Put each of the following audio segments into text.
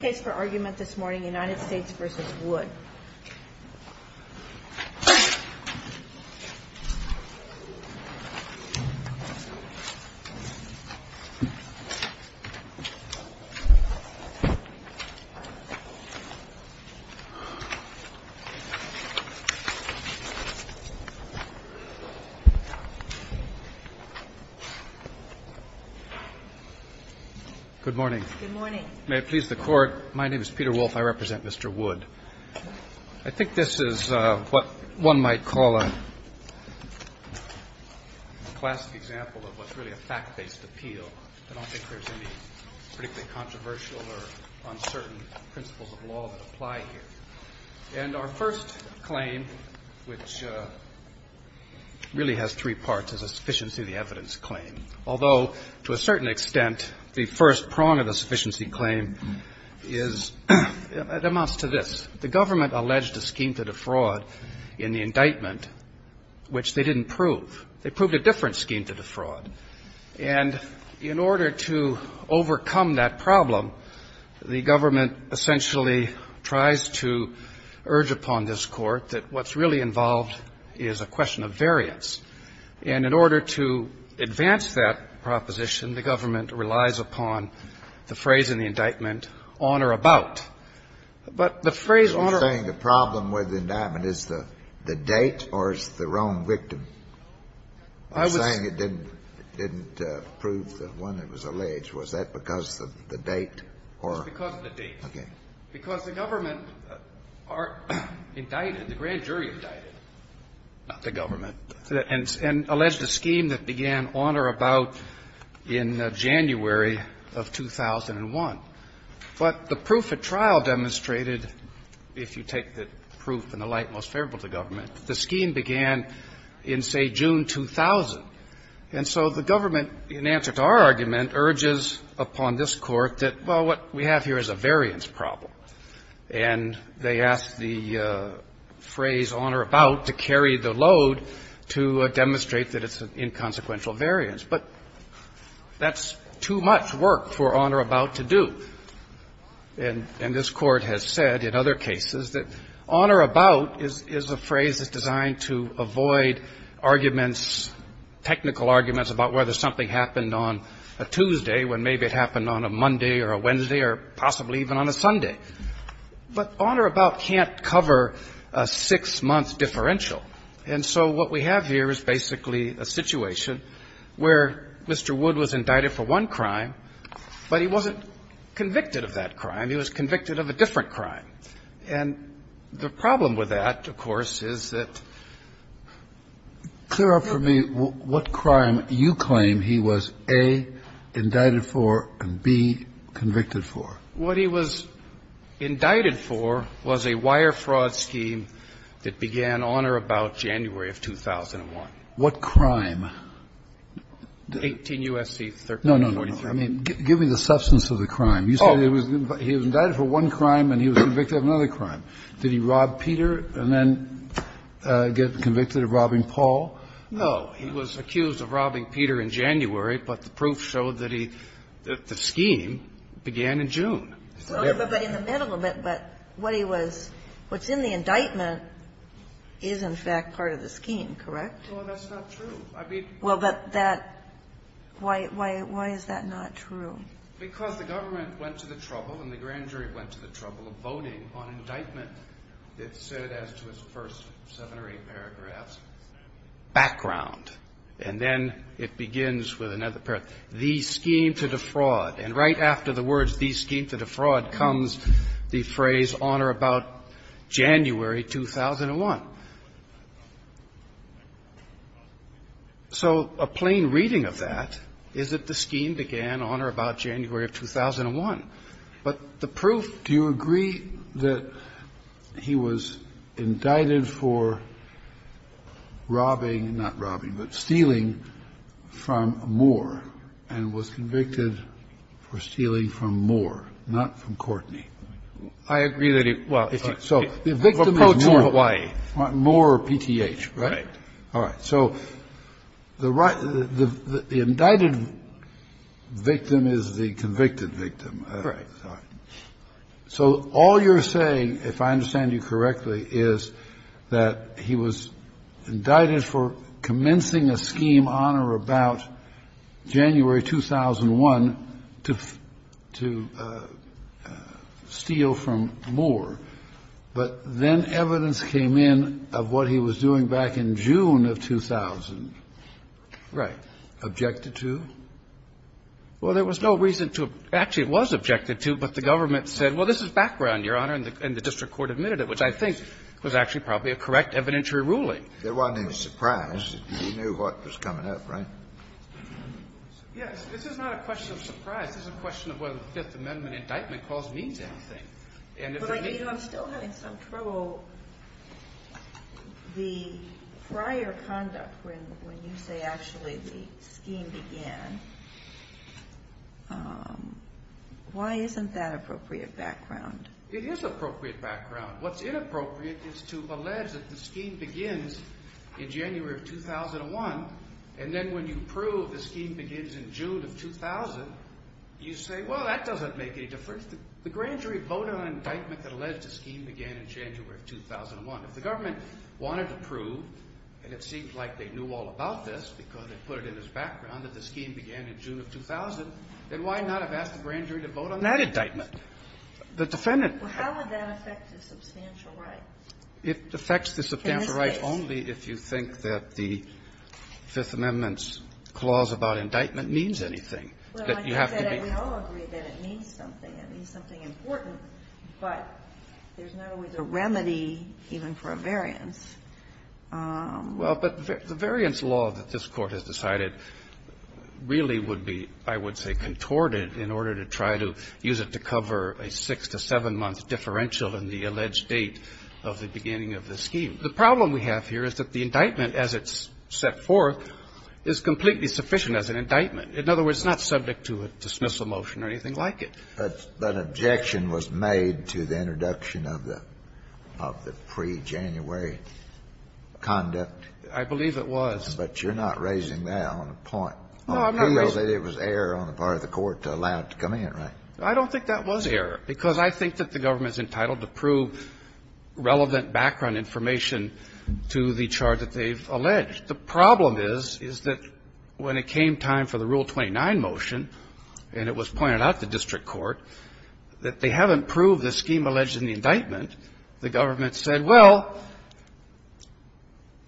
case for argument this morning, United States v. Wood. Good morning. Good morning. May it please the Court, my name is Peter Wolfe, I represent Mr. Wood. I think this is what one might call a classic example of what's really a fact-based appeal. I don't think there's any particularly controversial or uncertain principles of law that apply here. And our first claim, which really has three parts, is a sufficiency of the evidence claim. Although, to a certain extent, the first prong of the sufficiency claim is, it amounts to this. The government alleged a scheme to defraud in the indictment, which they didn't prove. They proved a different scheme to defraud. And in order to overcome that problem, the government essentially tries to urge upon this Court that what's really involved is a question of variance. And in order to advance that proposition, the government relies upon the phrase in the indictment, on or about. But the phrase on or about. You're saying the problem with the indictment is the date or it's the wrong victim? I was saying it didn't prove the one that was alleged. Was that because of the date or the date? It was because of the date. Okay. Because the government indicted, the grand jury indicted, the government. And alleged a scheme that began on or about in January of 2001. But the proof at trial demonstrated, if you take the proof and the light most favorable to government, the scheme began in, say, June 2000. And so the government, in answer to our argument, urges upon this Court that, well, what we have here is a variance problem. And they ask the phrase on or about to carry the load to demonstrate that it's an inconsequential variance. But that's too much work for on or about to do. And this Court has said in other cases that on or about is a phrase that's designed to avoid arguments, technical arguments, about whether something happened on a Tuesday when maybe it happened on a Monday or a Wednesday or possibly even on a Sunday. But on or about can't cover a six-month differential. And so what we have here is basically a situation where Mr. Wood was indicted for one crime, but he wasn't convicted of that crime. He was convicted of a different crime. And the problem with that, of course, is that the problem for me, what crime you claim he was, A, indicted for and, B, convicted for? What he was indicted for was a wire fraud scheme that began on or about January of 2001. What crime? 18 U.S.C. 1343. No, no, no. I mean, give me the substance of the crime. You said he was indicted for one crime and he was convicted of another crime. Did he rob Peter and then get convicted of robbing Paul? No. He was accused of robbing Peter in January, but the proof showed that he the scheme began in June. So in the middle of it, but what he was, what's in the indictment is, in fact, part of the scheme, correct? Well, that's not true. I mean. Well, but that, why is that not true? Because the government went to the trouble and the grand jury went to the trouble of voting on indictment that said, as to its first seven or eight paragraphs, background. And then it begins with another paragraph, the scheme to defraud. And right after the words, the scheme to defraud, comes the phrase on or about January 2001. So a plain reading of that is that the scheme began on or about January of 2001. But the proof. Do you agree that he was indicted for robbing, not robbing, but stealing from Moore and was convicted for stealing from Moore, not from Courtney? I agree that he. Well. So the victim is Moore. Moore PTH, right? All right. So the indicted victim is the convicted victim. Right. So all you're saying, if I understand you correctly, is that he was indicted for commencing a scheme on or about January 2001 to steal from Moore. But then evidence came in of what he was doing back in June of 2000. Right. Objected to? Well, there was no reason to actually, it was objected to, but the government said, well, this is background, Your Honor, and the district court admitted it, which I think was actually probably a correct evidentiary ruling. There wasn't any surprise. He knew what was coming up, right? Yes. This is not a question of surprise. This is a question of whether the Fifth Amendment indictment clause means anything. And if they did not. But I'm still having some trouble. So the prior conduct, when you say actually the scheme began, why isn't that appropriate background? It is appropriate background. What's inappropriate is to allege that the scheme begins in January of 2001, and then when you prove the scheme begins in June of 2000, you say, well, that doesn't make any difference. If the grand jury voted on an indictment that alleged the scheme began in January of 2001, if the government wanted to prove, and it seemed like they knew all about this because they put it in as background, that the scheme began in June of 2000, then why not have asked the grand jury to vote on that indictment? The defendant. Well, how would that affect the substantial right? It affects the substantial right only if you think that the Fifth Amendment's clause about indictment means anything, that you have to be. And we all agree that it means something. It means something important, but there's not always a remedy, even for a variance. Well, but the variance law that this Court has decided really would be, I would say, contorted in order to try to use it to cover a six to seven-month differential in the alleged date of the beginning of the scheme. The problem we have here is that the indictment, as it's set forth, is completely sufficient as an indictment. In other words, it's not subject to a dismissal motion or anything like it. But an objection was made to the introduction of the pre-January conduct. I believe it was. But you're not raising that on a point. No, I'm not raising it. It was error on the part of the Court to allow it to come in, right? I don't think that was error, because I think that the government is entitled to prove relevant background information to the charge that they've alleged. The problem is, is that when it came time for the Rule 29 motion, and it was pointed out to district court, that they haven't proved the scheme alleged in the indictment, the government said, well,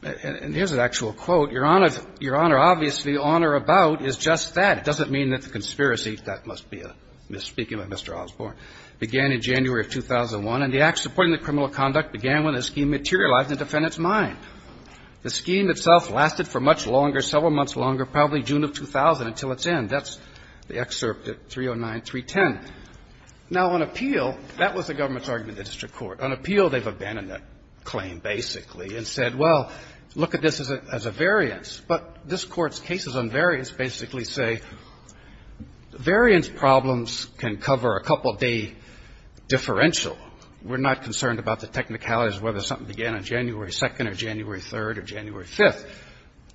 and here's an actual quote, Your Honor, Your Honor, obviously, on or about is just that. It doesn't mean that the conspiracy, that must be a misspeaking of Mr. Osborne, began in January of 2001, and the act supporting the criminal conduct began when the scheme materialized in the defendant's mind. The scheme itself lasted for much longer, several months longer, probably June of 2000 until its end. That's the excerpt at 309.310. Now, on appeal, that was the government's argument to district court. On appeal, they've abandoned that claim, basically, and said, well, look at this as a variance. But this Court's cases on variance basically say variance problems can cover a couple-day differential. We're not concerned about the technicalities, whether something began on January 2nd or January 3rd or January 5th.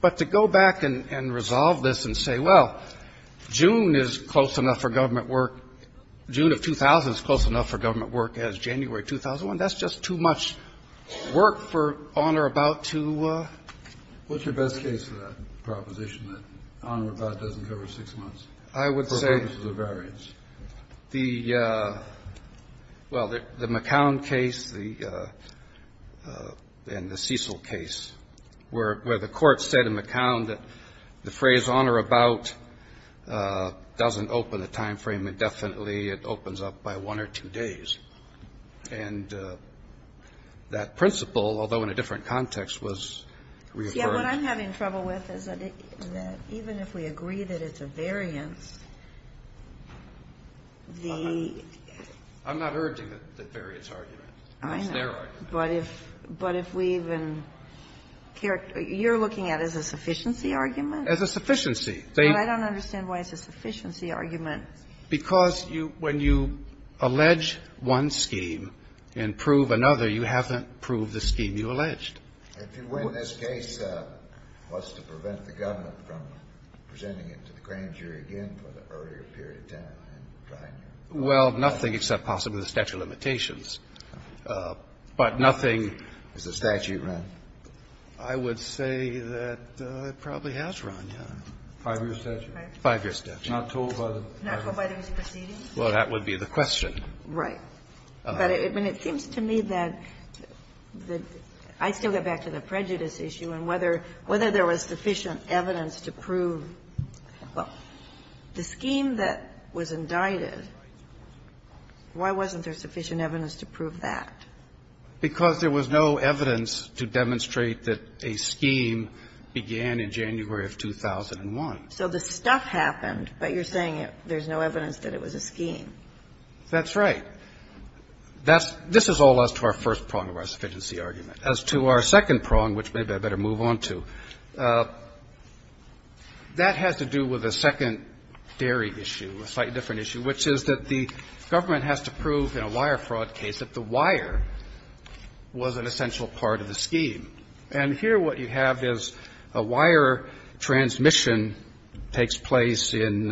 But to go back and resolve this and say, well, June is close enough for government work, June of 2000 is close enough for government work as January 2001, that's just too much work for on or about to do. Kennedy. What's your best case for that proposition, that on or about doesn't cover six months for purposes of variance? The McCown case and the Cecil case, where the Court said in McCown that the phrase on or about doesn't open a time frame indefinitely. It opens up by one or two days. And that principle, although in a different context, was reaffirmed. But what I'm having trouble with is that even if we agree that it's a variance, the -- I'm not urging the variance argument. It's their argument. But if we even care to -- you're looking at it as a sufficiency argument? As a sufficiency. But I don't understand why it's a sufficiency argument. Because when you allege one scheme and prove another, you haven't proved the scheme you alleged. If you win this case, what's to prevent the government from presenting it to the grand jury again for the earlier period of time? Well, nothing except possibly the statute of limitations. But nothing -- Has the statute run? I would say that it probably has run, yes. Five-year statute? Five-year statute. Not told by the proceedings? Well, that would be the question. Right. But it seems to me that the -- I'd still get back to the prejudice issue and whether there was sufficient evidence to prove the scheme that was indicted, why wasn't there sufficient evidence to prove that? Because there was no evidence to demonstrate that a scheme began in January of 2001. So the stuff happened, but you're saying there's no evidence that it was a scheme. That's right. That's ‑‑ this is all as to our first prong of our sufficiency argument. As to our second prong, which maybe I better move on to, that has to do with a second dairy issue, a slightly different issue, which is that the government has to prove in a wire fraud case that the wire was an essential part of the scheme. And here what you have is a wire transmission takes place in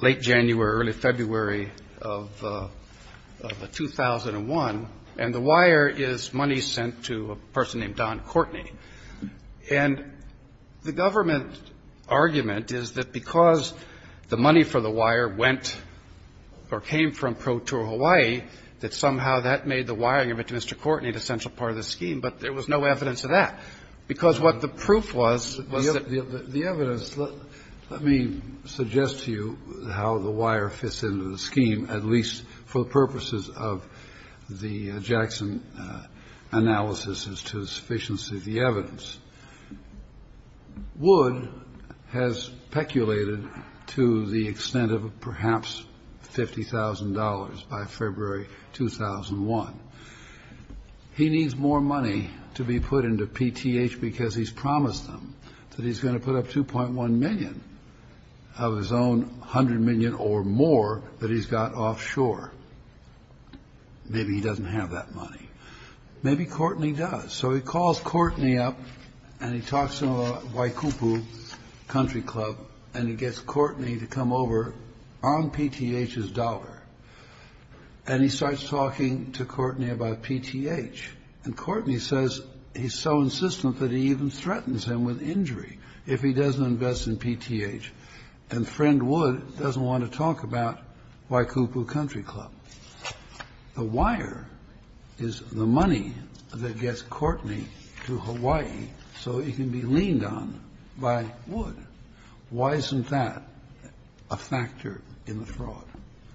late January, early February of 2001, and the wire is money sent to a person named Don Courtney. And the government argument is that because the money for the wire went or came from Pro Tour Hawaii, that somehow that made the wiring of it to Mr. Courtney an essential part of the scheme, but there was no evidence of that. Because what the proof was, was that ‑‑ I suggest to you how the wire fits into the scheme, at least for the purposes of the Jackson analysis as to the sufficiency of the evidence. Wood has peculated to the extent of perhaps $50,000 by February 2001. He needs more money to be put into PTH because he's promised them that he's going to put up 2.1 million of his own 100 million or more that he's got offshore. Maybe he doesn't have that money. Maybe Courtney does. So he calls Courtney up and he talks to a Waikupu country club and he gets Courtney to come over on PTH's dollar. And he starts talking to Courtney about PTH. And Courtney says he's so insistent that he even threatens him with injury. If he doesn't invest in PTH. And friend Wood doesn't want to talk about Waikupu country club. The wire is the money that gets Courtney to Hawaii so he can be leaned on by Wood. Why isn't that a factor in the fraud?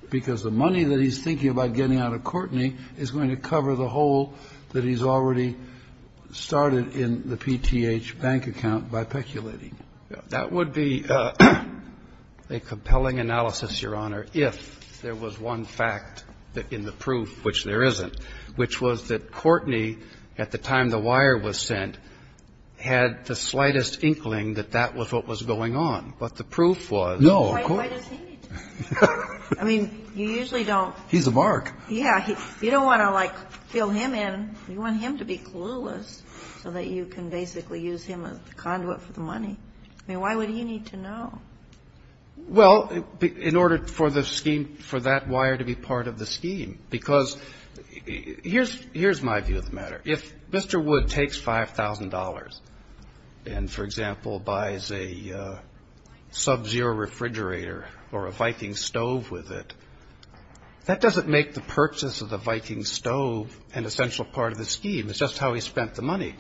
Because the money that he's thinking about getting out of Courtney is going to cover the hole that he's already started in the PTH bank account by peculating. That would be a compelling analysis, Your Honor, if there was one fact in the proof, which there isn't, which was that Courtney, at the time the wire was sent, had the slightest inkling that that was what was going on. But the proof was. No, of course not. I mean, you usually don't. He's a mark. Yeah. You don't want to, like, fill him in. You want him to be clueless so that you can basically use him as the conduit for the money. I mean, why would he need to know? Well, in order for the scheme, for that wire to be part of the scheme. Because here's my view of the matter. If Mr. Wood takes $5,000 and, for example, buys a Sub-Zero refrigerator or a Viking stove with it, that doesn't make the purchase of the Viking stove an essential part of the scheme. It's just how he spent the money.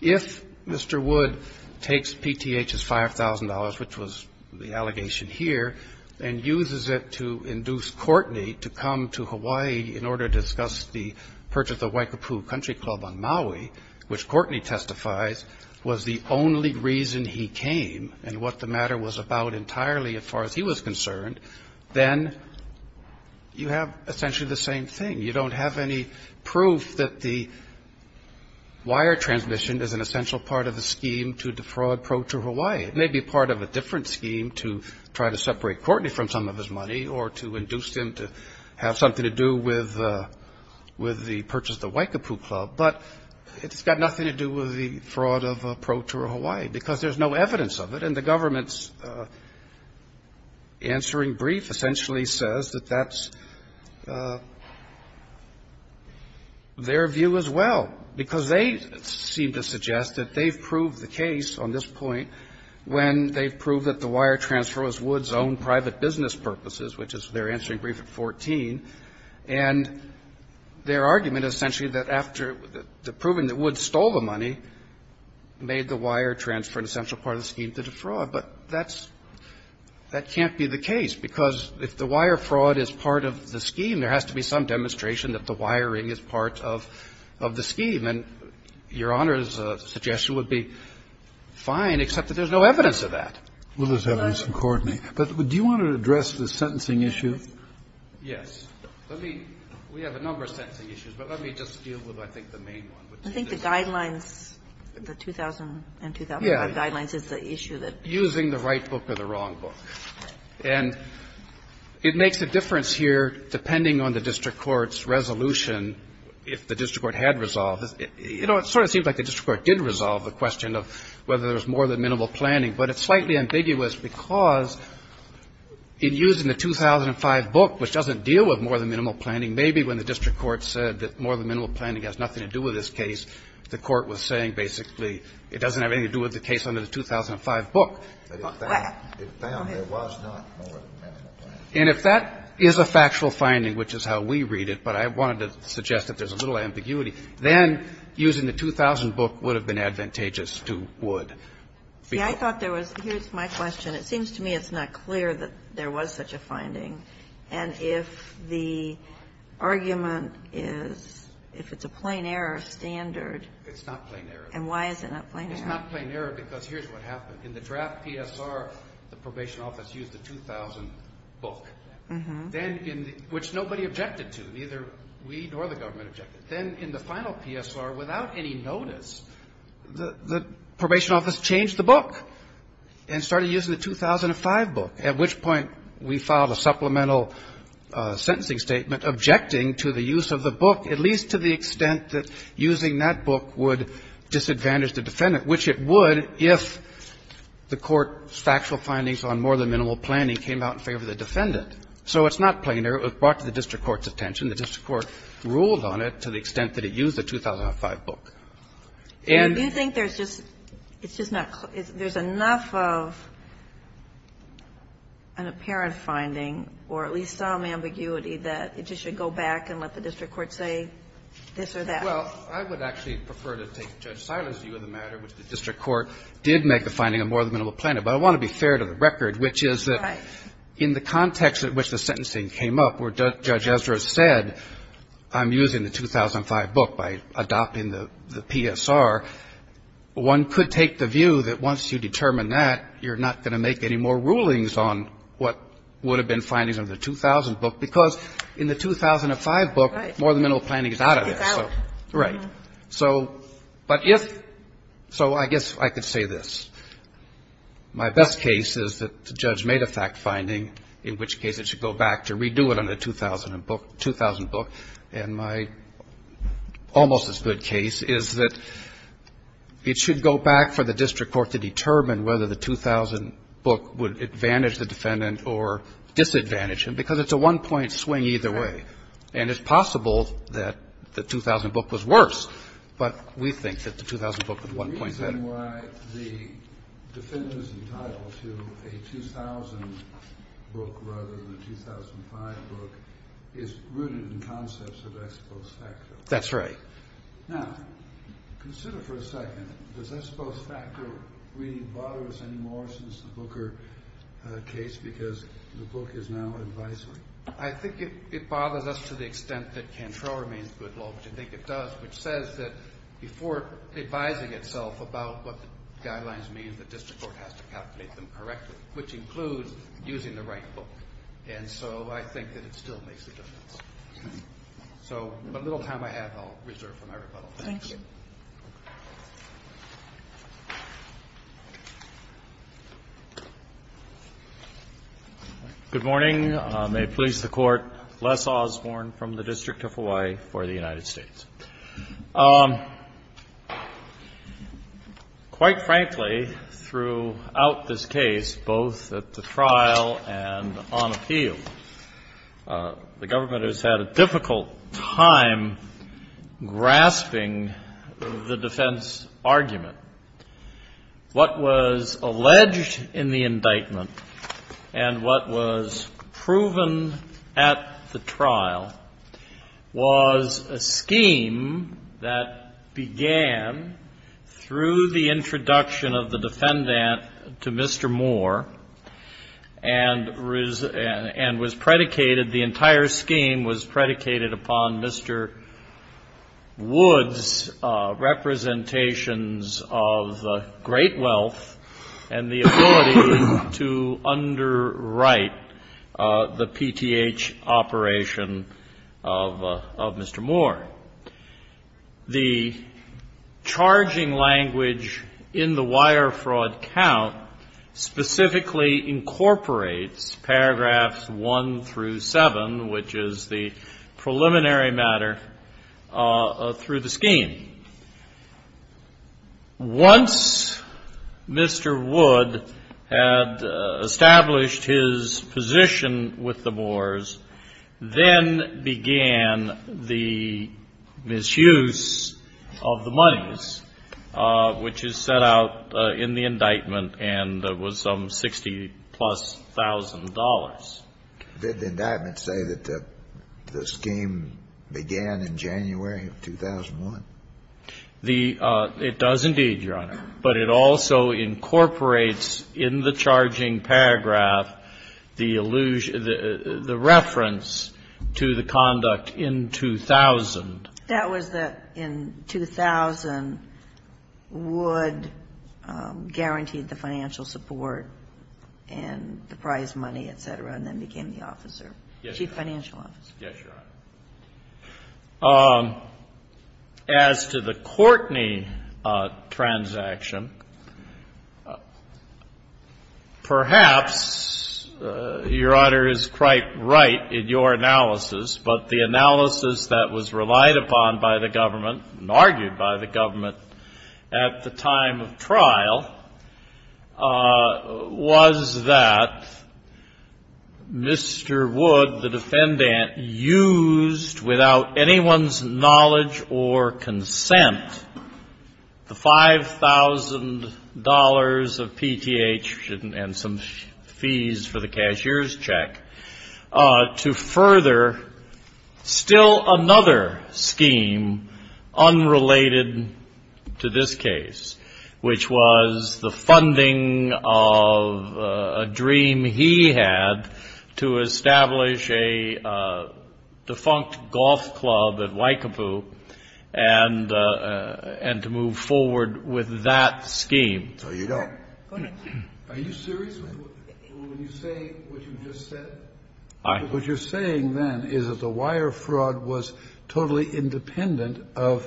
If Mr. Wood takes PTH's $5,000, which was the allegation here, and uses it to induce Courtney to come to Hawaii in order to discuss the purchase of Waikapu Country Club on Maui, which Courtney testifies was the only reason he came and what the matter was about entirely, as far as he was concerned, then you have essentially the same thing. You don't have any proof that the wire transmission is an essential part of the scheme to defraud Pro Tour Hawaii. It may be part of a different scheme to try to separate Courtney from some of his money or to induce him to have something to do with the purchase of the Waikapu Club. But it's got nothing to do with the fraud of Pro Tour Hawaii because there's no evidence of it. And the government's answering brief essentially says that that's their view as well, because they seem to suggest that they've proved the case on this point when they've proved that the wire transfer was Wood's own private business purposes, which is their answering brief at 14. And their argument is essentially that after the proving that Wood stole the money, he made the wire transfer an essential part of the scheme to defraud. But that's – that can't be the case, because if the wire fraud is part of the scheme, there has to be some demonstration that the wiring is part of the scheme. And Your Honor's suggestion would be fine, except that there's no evidence of that. Kennedy, but do you want to address the sentencing issue? Yes. Let me – we have a number of sentencing issues, but let me just deal with, I think, the main one. I think the guidelines, the 2000 and 2005 guidelines is the issue that – Using the right book or the wrong book. And it makes a difference here depending on the district court's resolution if the district court had resolved. You know, it sort of seems like the district court did resolve the question of whether there's more than minimal planning, but it's slightly ambiguous because in using the 2005 book, which doesn't deal with more than minimal planning, maybe when the district court said that more than minimal planning has nothing to do with this case, the court was saying basically it doesn't have anything to do with the case under the 2005 book. Well, I have to go ahead. It found there was not more than minimal planning. And if that is a factual finding, which is how we read it, but I wanted to suggest that there's a little ambiguity, then using the 2000 book would have been advantageous to Wood. See, I thought there was – here's my question. It seems to me it's not clear that there was such a finding. And if the argument is, if it's a plain error standard. It's not plain error. And why is it not plain error? It's not plain error because here's what happened. In the draft PSR, the probation office used the 2000 book. Then in the – which nobody objected to, neither we nor the government objected. Then in the final PSR, without any notice, the probation office changed the book and started using the 2005 book, at which point we filed a supplemental sentencing statement objecting to the use of the book, at least to the extent that using that book would disadvantage the defendant, which it would if the Court's factual findings on more than minimal planning came out in favor of the defendant. So it's not plain error. It was brought to the district court's attention. The district court ruled on it to the extent that it used the 2005 book. There's enough of an apparent finding or at least some ambiguity that it just should go back and let the district court say this or that. Well, I would actually prefer to take Judge Silas' view of the matter, which the district court did make the finding of more than minimal planning. But I want to be fair to the record, which is that in the context at which the sentencing came up, where Judge Ezra said, I'm using the 2005 book by adopting the PSR, one could take the view that once you determine that, you're not going to make any more rulings on what would have been findings on the 2000 book, because in the 2005 book, more than minimal planning is out of there. So, right. So, but if so, I guess I could say this. My best case is that the judge made a fact finding, in which case it should go back to redo it on the 2000 book. And my almost as good case is that it should go back for the district court to determine whether the 2000 book would advantage the defendant or disadvantage him, because it's a one-point swing either way. And it's possible that the 2000 book was worse, but we think that the 2000 book was one-point better. That's the reason why the defendant is entitled to a 2000 book rather than a 2005 book is rooted in concepts of ex post facto. That's right. Now, consider for a second, does ex post facto really bother us anymore since the Booker case, because the book is now advisory? I think it bothers us to the extent that Cantrell remains good law, which I think it does, which says that before advising itself about what the guidelines mean, the district court has to calculate them correctly, which includes using the right book. And so I think that it still makes a difference. So the little time I have, I'll reserve for my rebuttal. Thank you. Thank you. Good morning. May it please the Court, Les Osborne from the District of Hawaii for the United States. Quite frankly, throughout this case, both at the trial and on appeal, the government has had a difficult time grasping the defense argument. What was alleged in the indictment and what was proven at the trial was a scheme in which that began through the introduction of the defendant to Mr. Moore and was predicated, the entire scheme was predicated upon Mr. Wood's representations of great wealth and the ability to underwrite the PTH operation of Mr. Moore. The charging language in the wire fraud count specifically incorporates paragraphs 1 through 7, which is the preliminary matter through the scheme. Once Mr. Wood had established his position with the Moores, then began the misdemeanor misuse of the monies, which is set out in the indictment and was some $60,000-plus. Did the indictment say that the scheme began in January of 2001? It does indeed, Your Honor. But it also incorporates in the charging paragraph the reference to the conduct in 2000. That was that in 2000, Wood guaranteed the financial support and the prize money, et cetera, and then became the officer, chief financial officer. Yes, Your Honor. As to the Courtney transaction, perhaps Your Honor is quite right in your analysis, but the analysis that was relied upon by the government and argued by the government at the time of trial was that Mr. Wood, the defendant, used without anyone's knowledge or consent the $5,000 of PTH and some fees for the cashier's check to further still another scheme unrelated to this case, which was the funding of a dream he had to establish a defunct golf club at Waikapu and to move forward with that scheme. So you don't. Are you serious when you say what you just said? What you're saying then is that the wire fraud was totally independent of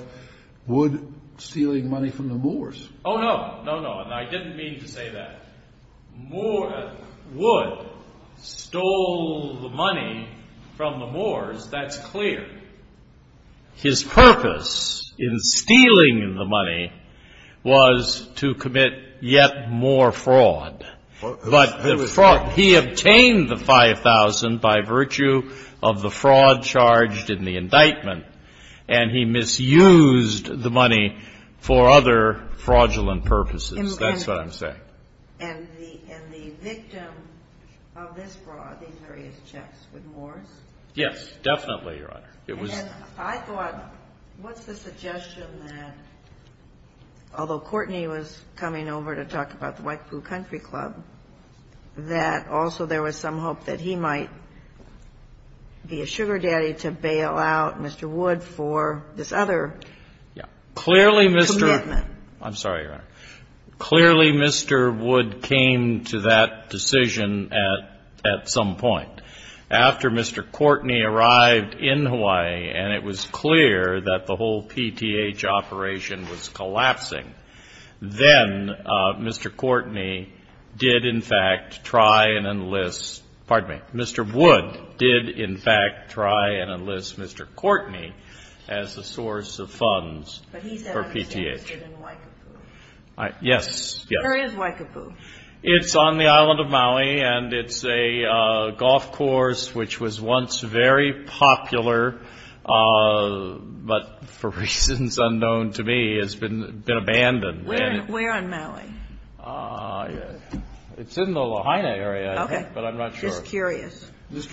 Wood stealing money from the Moors. Oh, no. No, no. And I didn't mean to say that. Wood stole the money from the Moors. That's clear. His purpose in stealing the money was to commit yet more fraud, but he obtained the $5,000 by virtue of the fraud charged in the indictment, and he misused the money for other fraudulent purposes. That's what I'm saying. And the victim of this fraud, these various checks, was Moors? Yes, definitely, Your Honor. And I thought, what's the suggestion that, although Courtney was coming over to talk about the Waikapu Country Club, that also there was some hope that he might be a sugar daddy to bail out Mr. Wood for this other commitment? Clearly, Mr. Wood came to that decision at some point. After Mr. Courtney arrived in Hawaii and it was clear that the whole PTH operation was collapsing, then Mr. Courtney did, in fact, try and enlist Mr. Wood did, in fact, try and enlist Mr. Wood's accounts for PTH. But he's that under status in Waikapu? Yes, yes. Where is Waikapu? It's on the island of Maui, and it's a golf course, which was once very popular, but for reasons unknown to me, has been abandoned. Where in Mallie? It's in the Lahaina area, but I'm not sure. Okay. I'm just curious.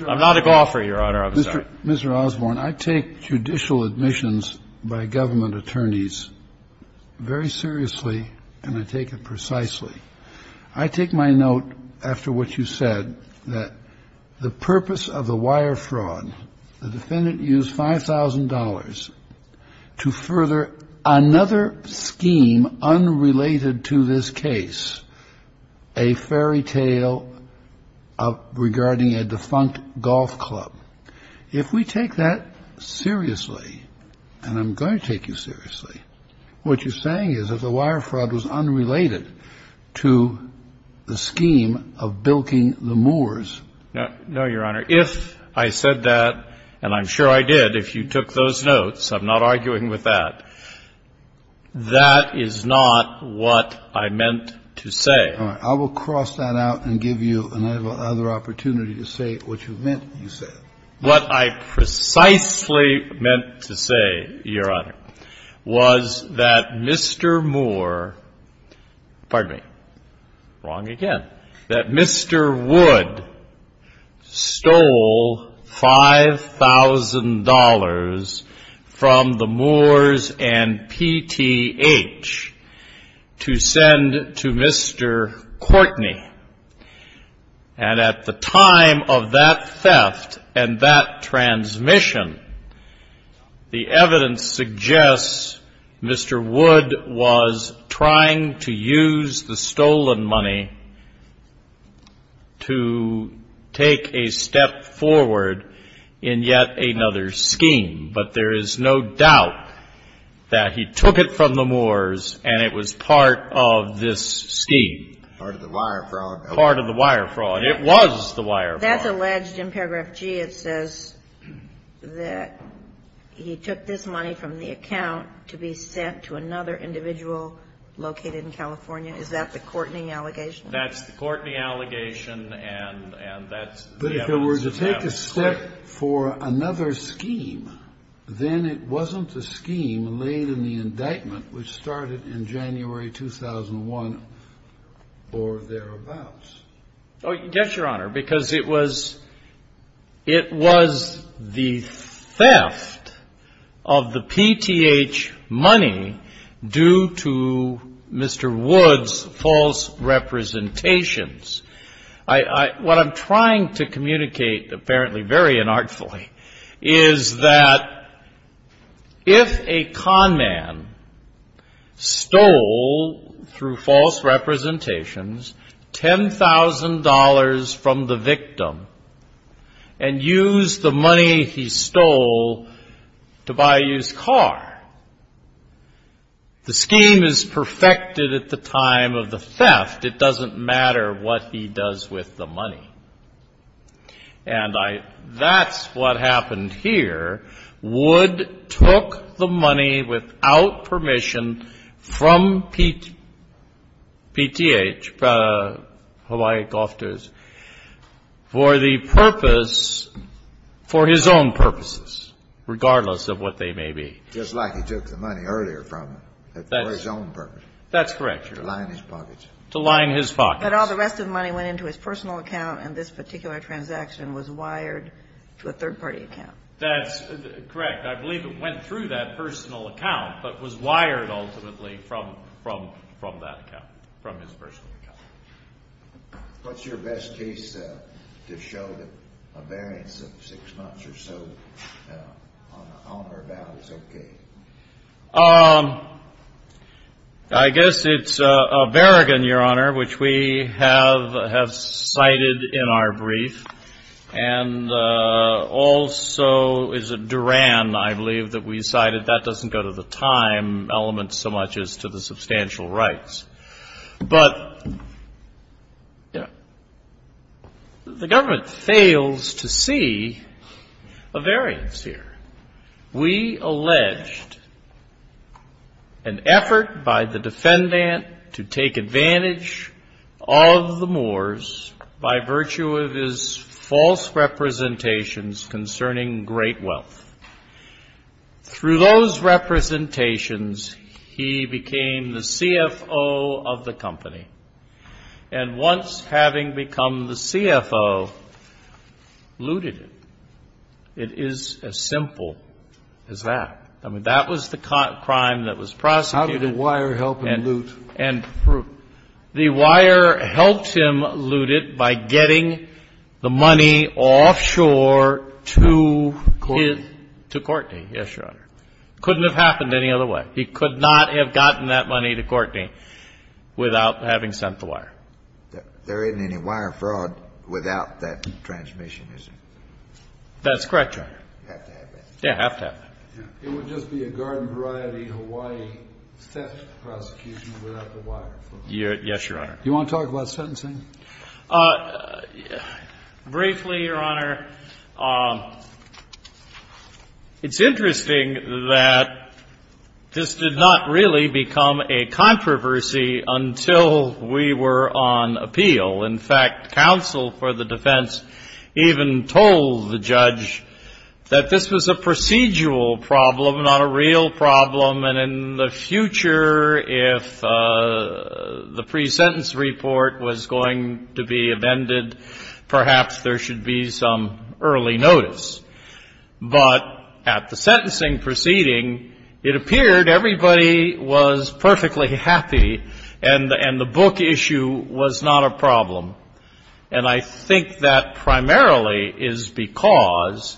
I'm not a golfer, Your Honor. I'm sorry. Mr. Osborne, I take judicial admissions by government attorneys very seriously, and I take it precisely. I take my note, after what you said, that the purpose of the wire fraud, the defendant used $5,000 to further another scheme unrelated to this case, a fairy tale regarding a defunct golf club. If we take that seriously, and I'm going to take you seriously, what you're saying is that the wire fraud was unrelated to the scheme of bilking the Moors. No, Your Honor. If I said that, and I'm sure I did, if you took those notes, I'm not arguing with that, that is not what I meant to say. All right. I will cross that out and give you another opportunity to say what you meant when you said it. What I precisely meant to say, Your Honor, was that Mr. Moore, pardon me, wrong again, that Mr. Wood stole $5,000 from the Moors and PTH to send to Mr. Courtney. And at the time of that theft and that transmission, the evidence suggests Mr. Wood was trying to use the stolen money to take a step forward in yet another scheme. But there is no doubt that he took it from the Moors and it was part of this scheme. Part of the wire fraud. Part of the wire fraud. It was the wire fraud. That's alleged in paragraph G. It says that he took this money from the account to be sent to another individual located in California. Is that the Courtney allegation? That's the Courtney allegation, and that's the evidence. But if it were to take a step for another scheme, then it wasn't a scheme laid in the indictment which started in January 2001 or thereabouts. Oh, yes, Your Honor, because it was the theft of the PTH money due to Mr. Wood's false representations. What I'm trying to communicate, apparently very unartfully, is that if a con man stole through false representations $10,000 from the victim and used the money he stole to buy a used car, the scheme is perfected at the time of the theft. It doesn't matter what he does with the money. And that's what happened here. Wood took the money without permission from PTH, Hawaii Golf Tours, for the purpose, for his own purposes, regardless of what they may be. Just like he took the money earlier from them for his own purposes. That's correct, Your Honor. To line his pockets. To line his pockets. But all the rest of the money went into his personal account, and this particular transaction was wired to a third-party account. That's correct. I believe it went through that personal account, but was wired ultimately from that account, from his personal account. What's your best case to show that a variance of six months or so on or about is okay? I guess it's a variance, Your Honor, which we have cited in our brief. And also is a Duran, I believe, that we cited. That doesn't go to the time element so much as to the substantial rights. But the government fails to see a variance here. We alleged an effort by the defendant to take advantage of the Moors by virtue of his false representations concerning great wealth. Through those representations, he became the CFO of the company. And once having become the CFO, looted it. It is as simple as that. I mean, that was the crime that was prosecuted. How did the wire help him loot? The wire helped him loot it by getting the money offshore to his — Courtney. To Courtney, yes, Your Honor. Couldn't have happened any other way. He could not have gotten that money to Courtney without having sent the wire. There isn't any wire fraud without that transmission, is there? That's correct, Your Honor. You have to have that. Yeah, have to have that. It would just be a Garden Variety, Hawaii theft prosecution without the wire. Yes, Your Honor. Do you want to talk about sentencing? Briefly, Your Honor, it's interesting that this did not really become a controversy until we were on appeal. In fact, counsel for the defense even told the judge that this was a procedural problem, not a real problem. And in the future, if the pre-sentence report was going to be amended, perhaps there should be some early notice. But at the sentencing proceeding, it appeared everybody was perfectly happy and the book issue was not a problem. And I think that primarily is because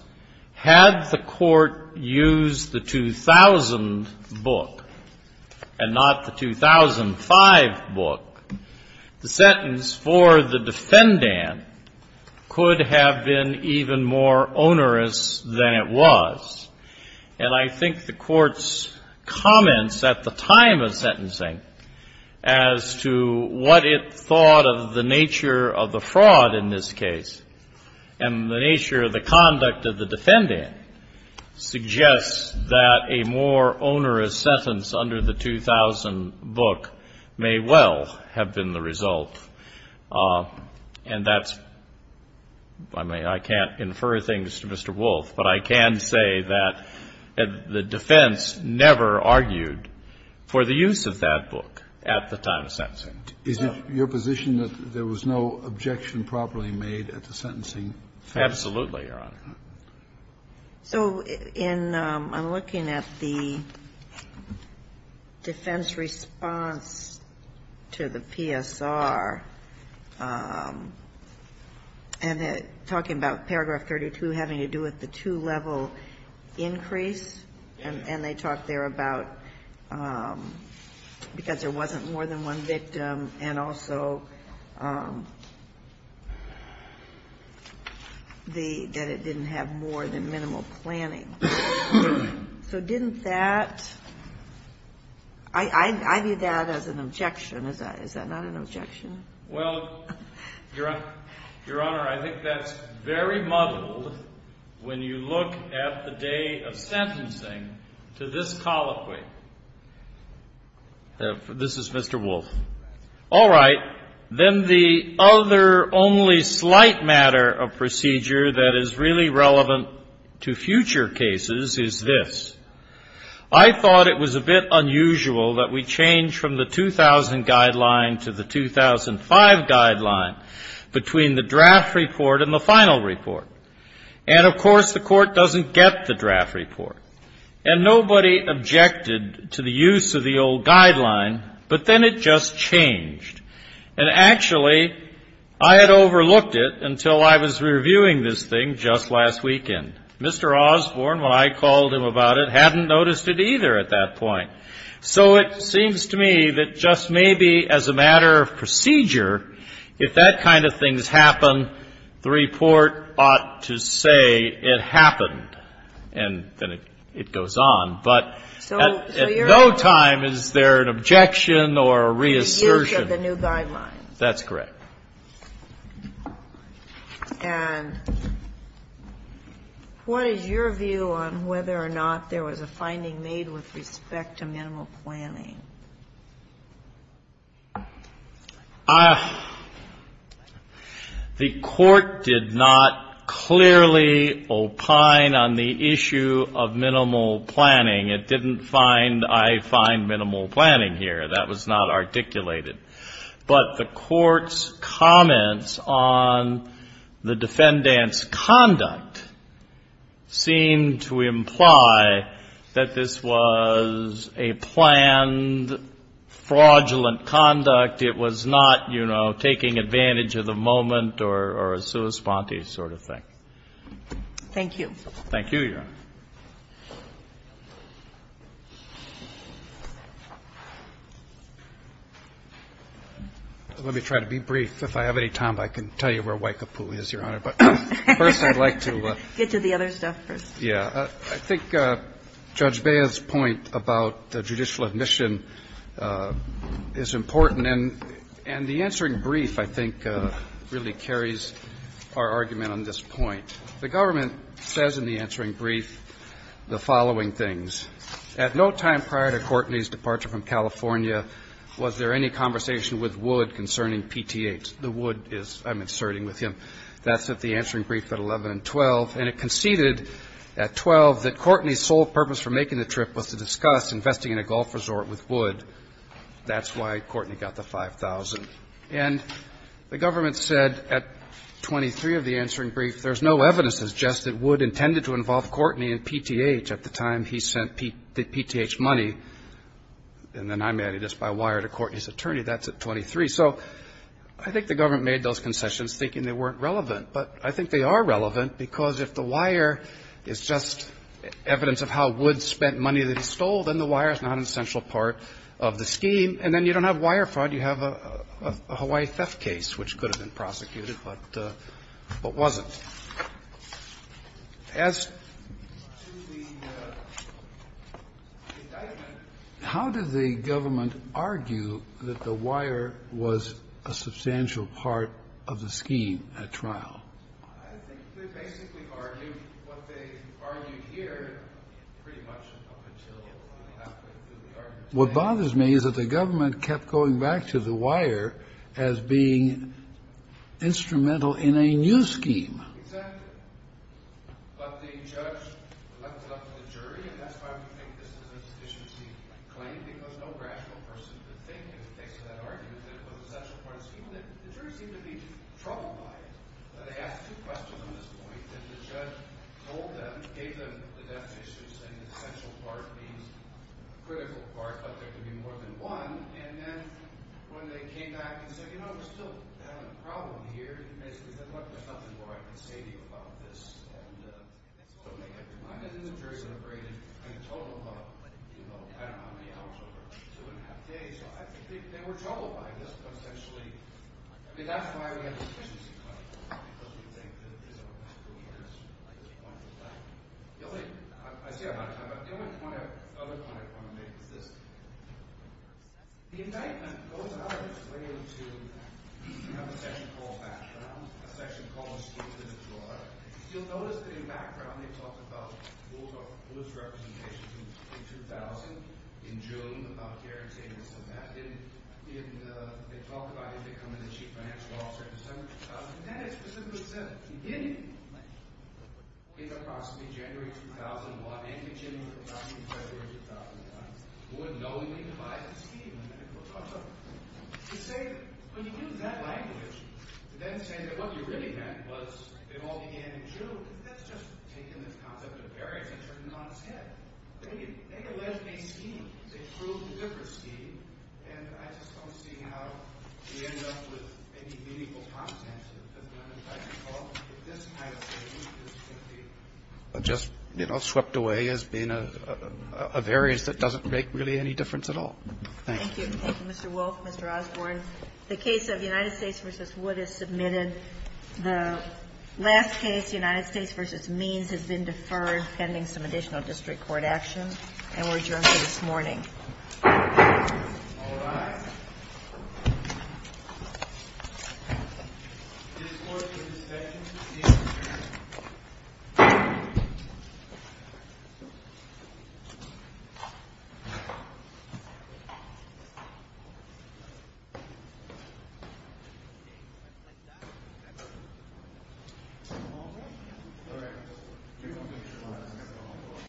had the court used the 2000 book and not the 2005 book, the sentence for the defendant could have been even more onerous than it was. And I think the court's comments at the time of sentencing as to what it thought of the nature of the fraud in this case and the nature of the conduct of the defendant suggests that a more onerous sentence under the 2000 book may well have been the result. And that's, I mean, I can't infer things to Mr. Wolff, but I can say that the defense never argued for the use of that book at the time of sentencing. Kennedy, is it your position that there was no objection properly made at the sentencing? Absolutely, Your Honor. So in looking at the defense response to the PSR and talking about paragraph 32 having to do with the two-level increase, and they talk there about, because there wasn't more than one victim, and also that it didn't have more than minimal planning. So didn't that, I view that as an objection. Is that not an objection? Well, Your Honor, I think that's very muddled when you look at the day of sentencing to this colloquy. This is Mr. Wolff. All right. Then the other only slight matter of procedure that is really relevant to future cases is this. I thought it was a bit unusual that we change from the 2000 guideline to the 2005 guideline between the draft report and the final report. And, of course, the Court doesn't get the draft report. And nobody objected to the use of the old guideline, but then it just changed. And actually, I had overlooked it until I was reviewing this thing just last weekend. Mr. Osborne, when I called him about it, hadn't noticed it either at that point. So it seems to me that just maybe as a matter of procedure, if that kind of thing has happened, it goes on. But at no time is there an objection or a reassertion. The use of the new guideline. That's correct. And what is your view on whether or not there was a finding made with respect to minimal planning? The Court did not clearly opine on the issue of minimal planning. It didn't find, I find minimal planning here. That was not articulated. But the Court's comments on the defendant's conduct seem to imply that this was a planned fraudulent conduct. It was not, you know, taking advantage of the moment or a sua sponte sort of thing. Thank you. Thank you, Your Honor. Let me try to be brief. If I have any time, I can tell you where Waikapu is, Your Honor. But first I'd like to get to the other stuff first. Yeah, I think Judge Bea's point about the judicial admission is important. And the answering brief, I think, really carries our argument on this point. The government says in the answering brief the following things. At no time prior to Courtney's departure from California was there any conversation with Wood concerning PTAs. The Wood is, I'm inserting with him, that's at the answering brief at 11 and 12. And it conceded at 12 that Courtney's sole purpose for making the trip was to discuss investing in a golf resort with Wood. That's why Courtney got the 5,000. And the government said at 23 of the answering brief there's no evidence to suggest that Wood intended to involve Courtney in PTH at the time he sent the PTH money. And then I'm adding this by wire to Courtney's attorney. That's at 23. So I think the government made those concessions thinking they weren't relevant. But I think they are relevant because if the wire is just evidence of how Wood spent money that he stole, then the wire is not an essential part of the scheme. And then you don't have wire fraud. You have a Hawaii theft case which could have been prosecuted but wasn't. As to the indictment, how did the government argue that the wire was a substantial part of the scheme at trial? What bothers me is that the government kept going back to the wire as being instrumental in a new scheme. Exactly. But the judge left it up to the jury and that's why we think this is an insufficiency claim because no rational person could think in the face of that argument that it was an essential part of the scheme. The jury seemed to be troubled by it. They asked two questions at this point and the judge told them, gave them the definitions saying essential part means critical part but there could be more than one. And then when they came back and said, you know, we're still having a problem here, the jury basically said, look, there's nothing more I can say to you about this. And then the jury celebrated and told them about, you know, I don't know how many hours over, two and a half days. So I think they were troubled by this potentially. I mean, that's why we have an insufficiency claim. Because we think that these are misdemeanors at this point in time. I say a lot of time, but the only other point I want to make is this. The indictment goes out of its way to have a section called background, a section called stupidity law. You'll notice that in background they talked about Woolcock's representations in 2000, in June, about Gary Tate and stuff like that. In the – they talk about him becoming the chief financial officer in December 2000. And that is specifically said. In the possibly January 2001 – in the January 2001 – Wood knowingly devised a scheme. They say, when you use that language, then say that what you really meant was it all began in June. That's just taking this concept of Gary's and turning it on its head. They alleged a scheme. They proved a different scheme. And I just don't see how they end up with any meaningful consequences. I think all of this kind of thing is simply just swept away as being of areas that doesn't make really any difference at all. Thank you. Thank you, Mr. Wolf, Mr. Osborne. The case of United States v. Wood is submitted. The last case, United States v. Means, has been deferred pending some additional district court action. And we're adjourned for this morning. All rise. This court is adjourned.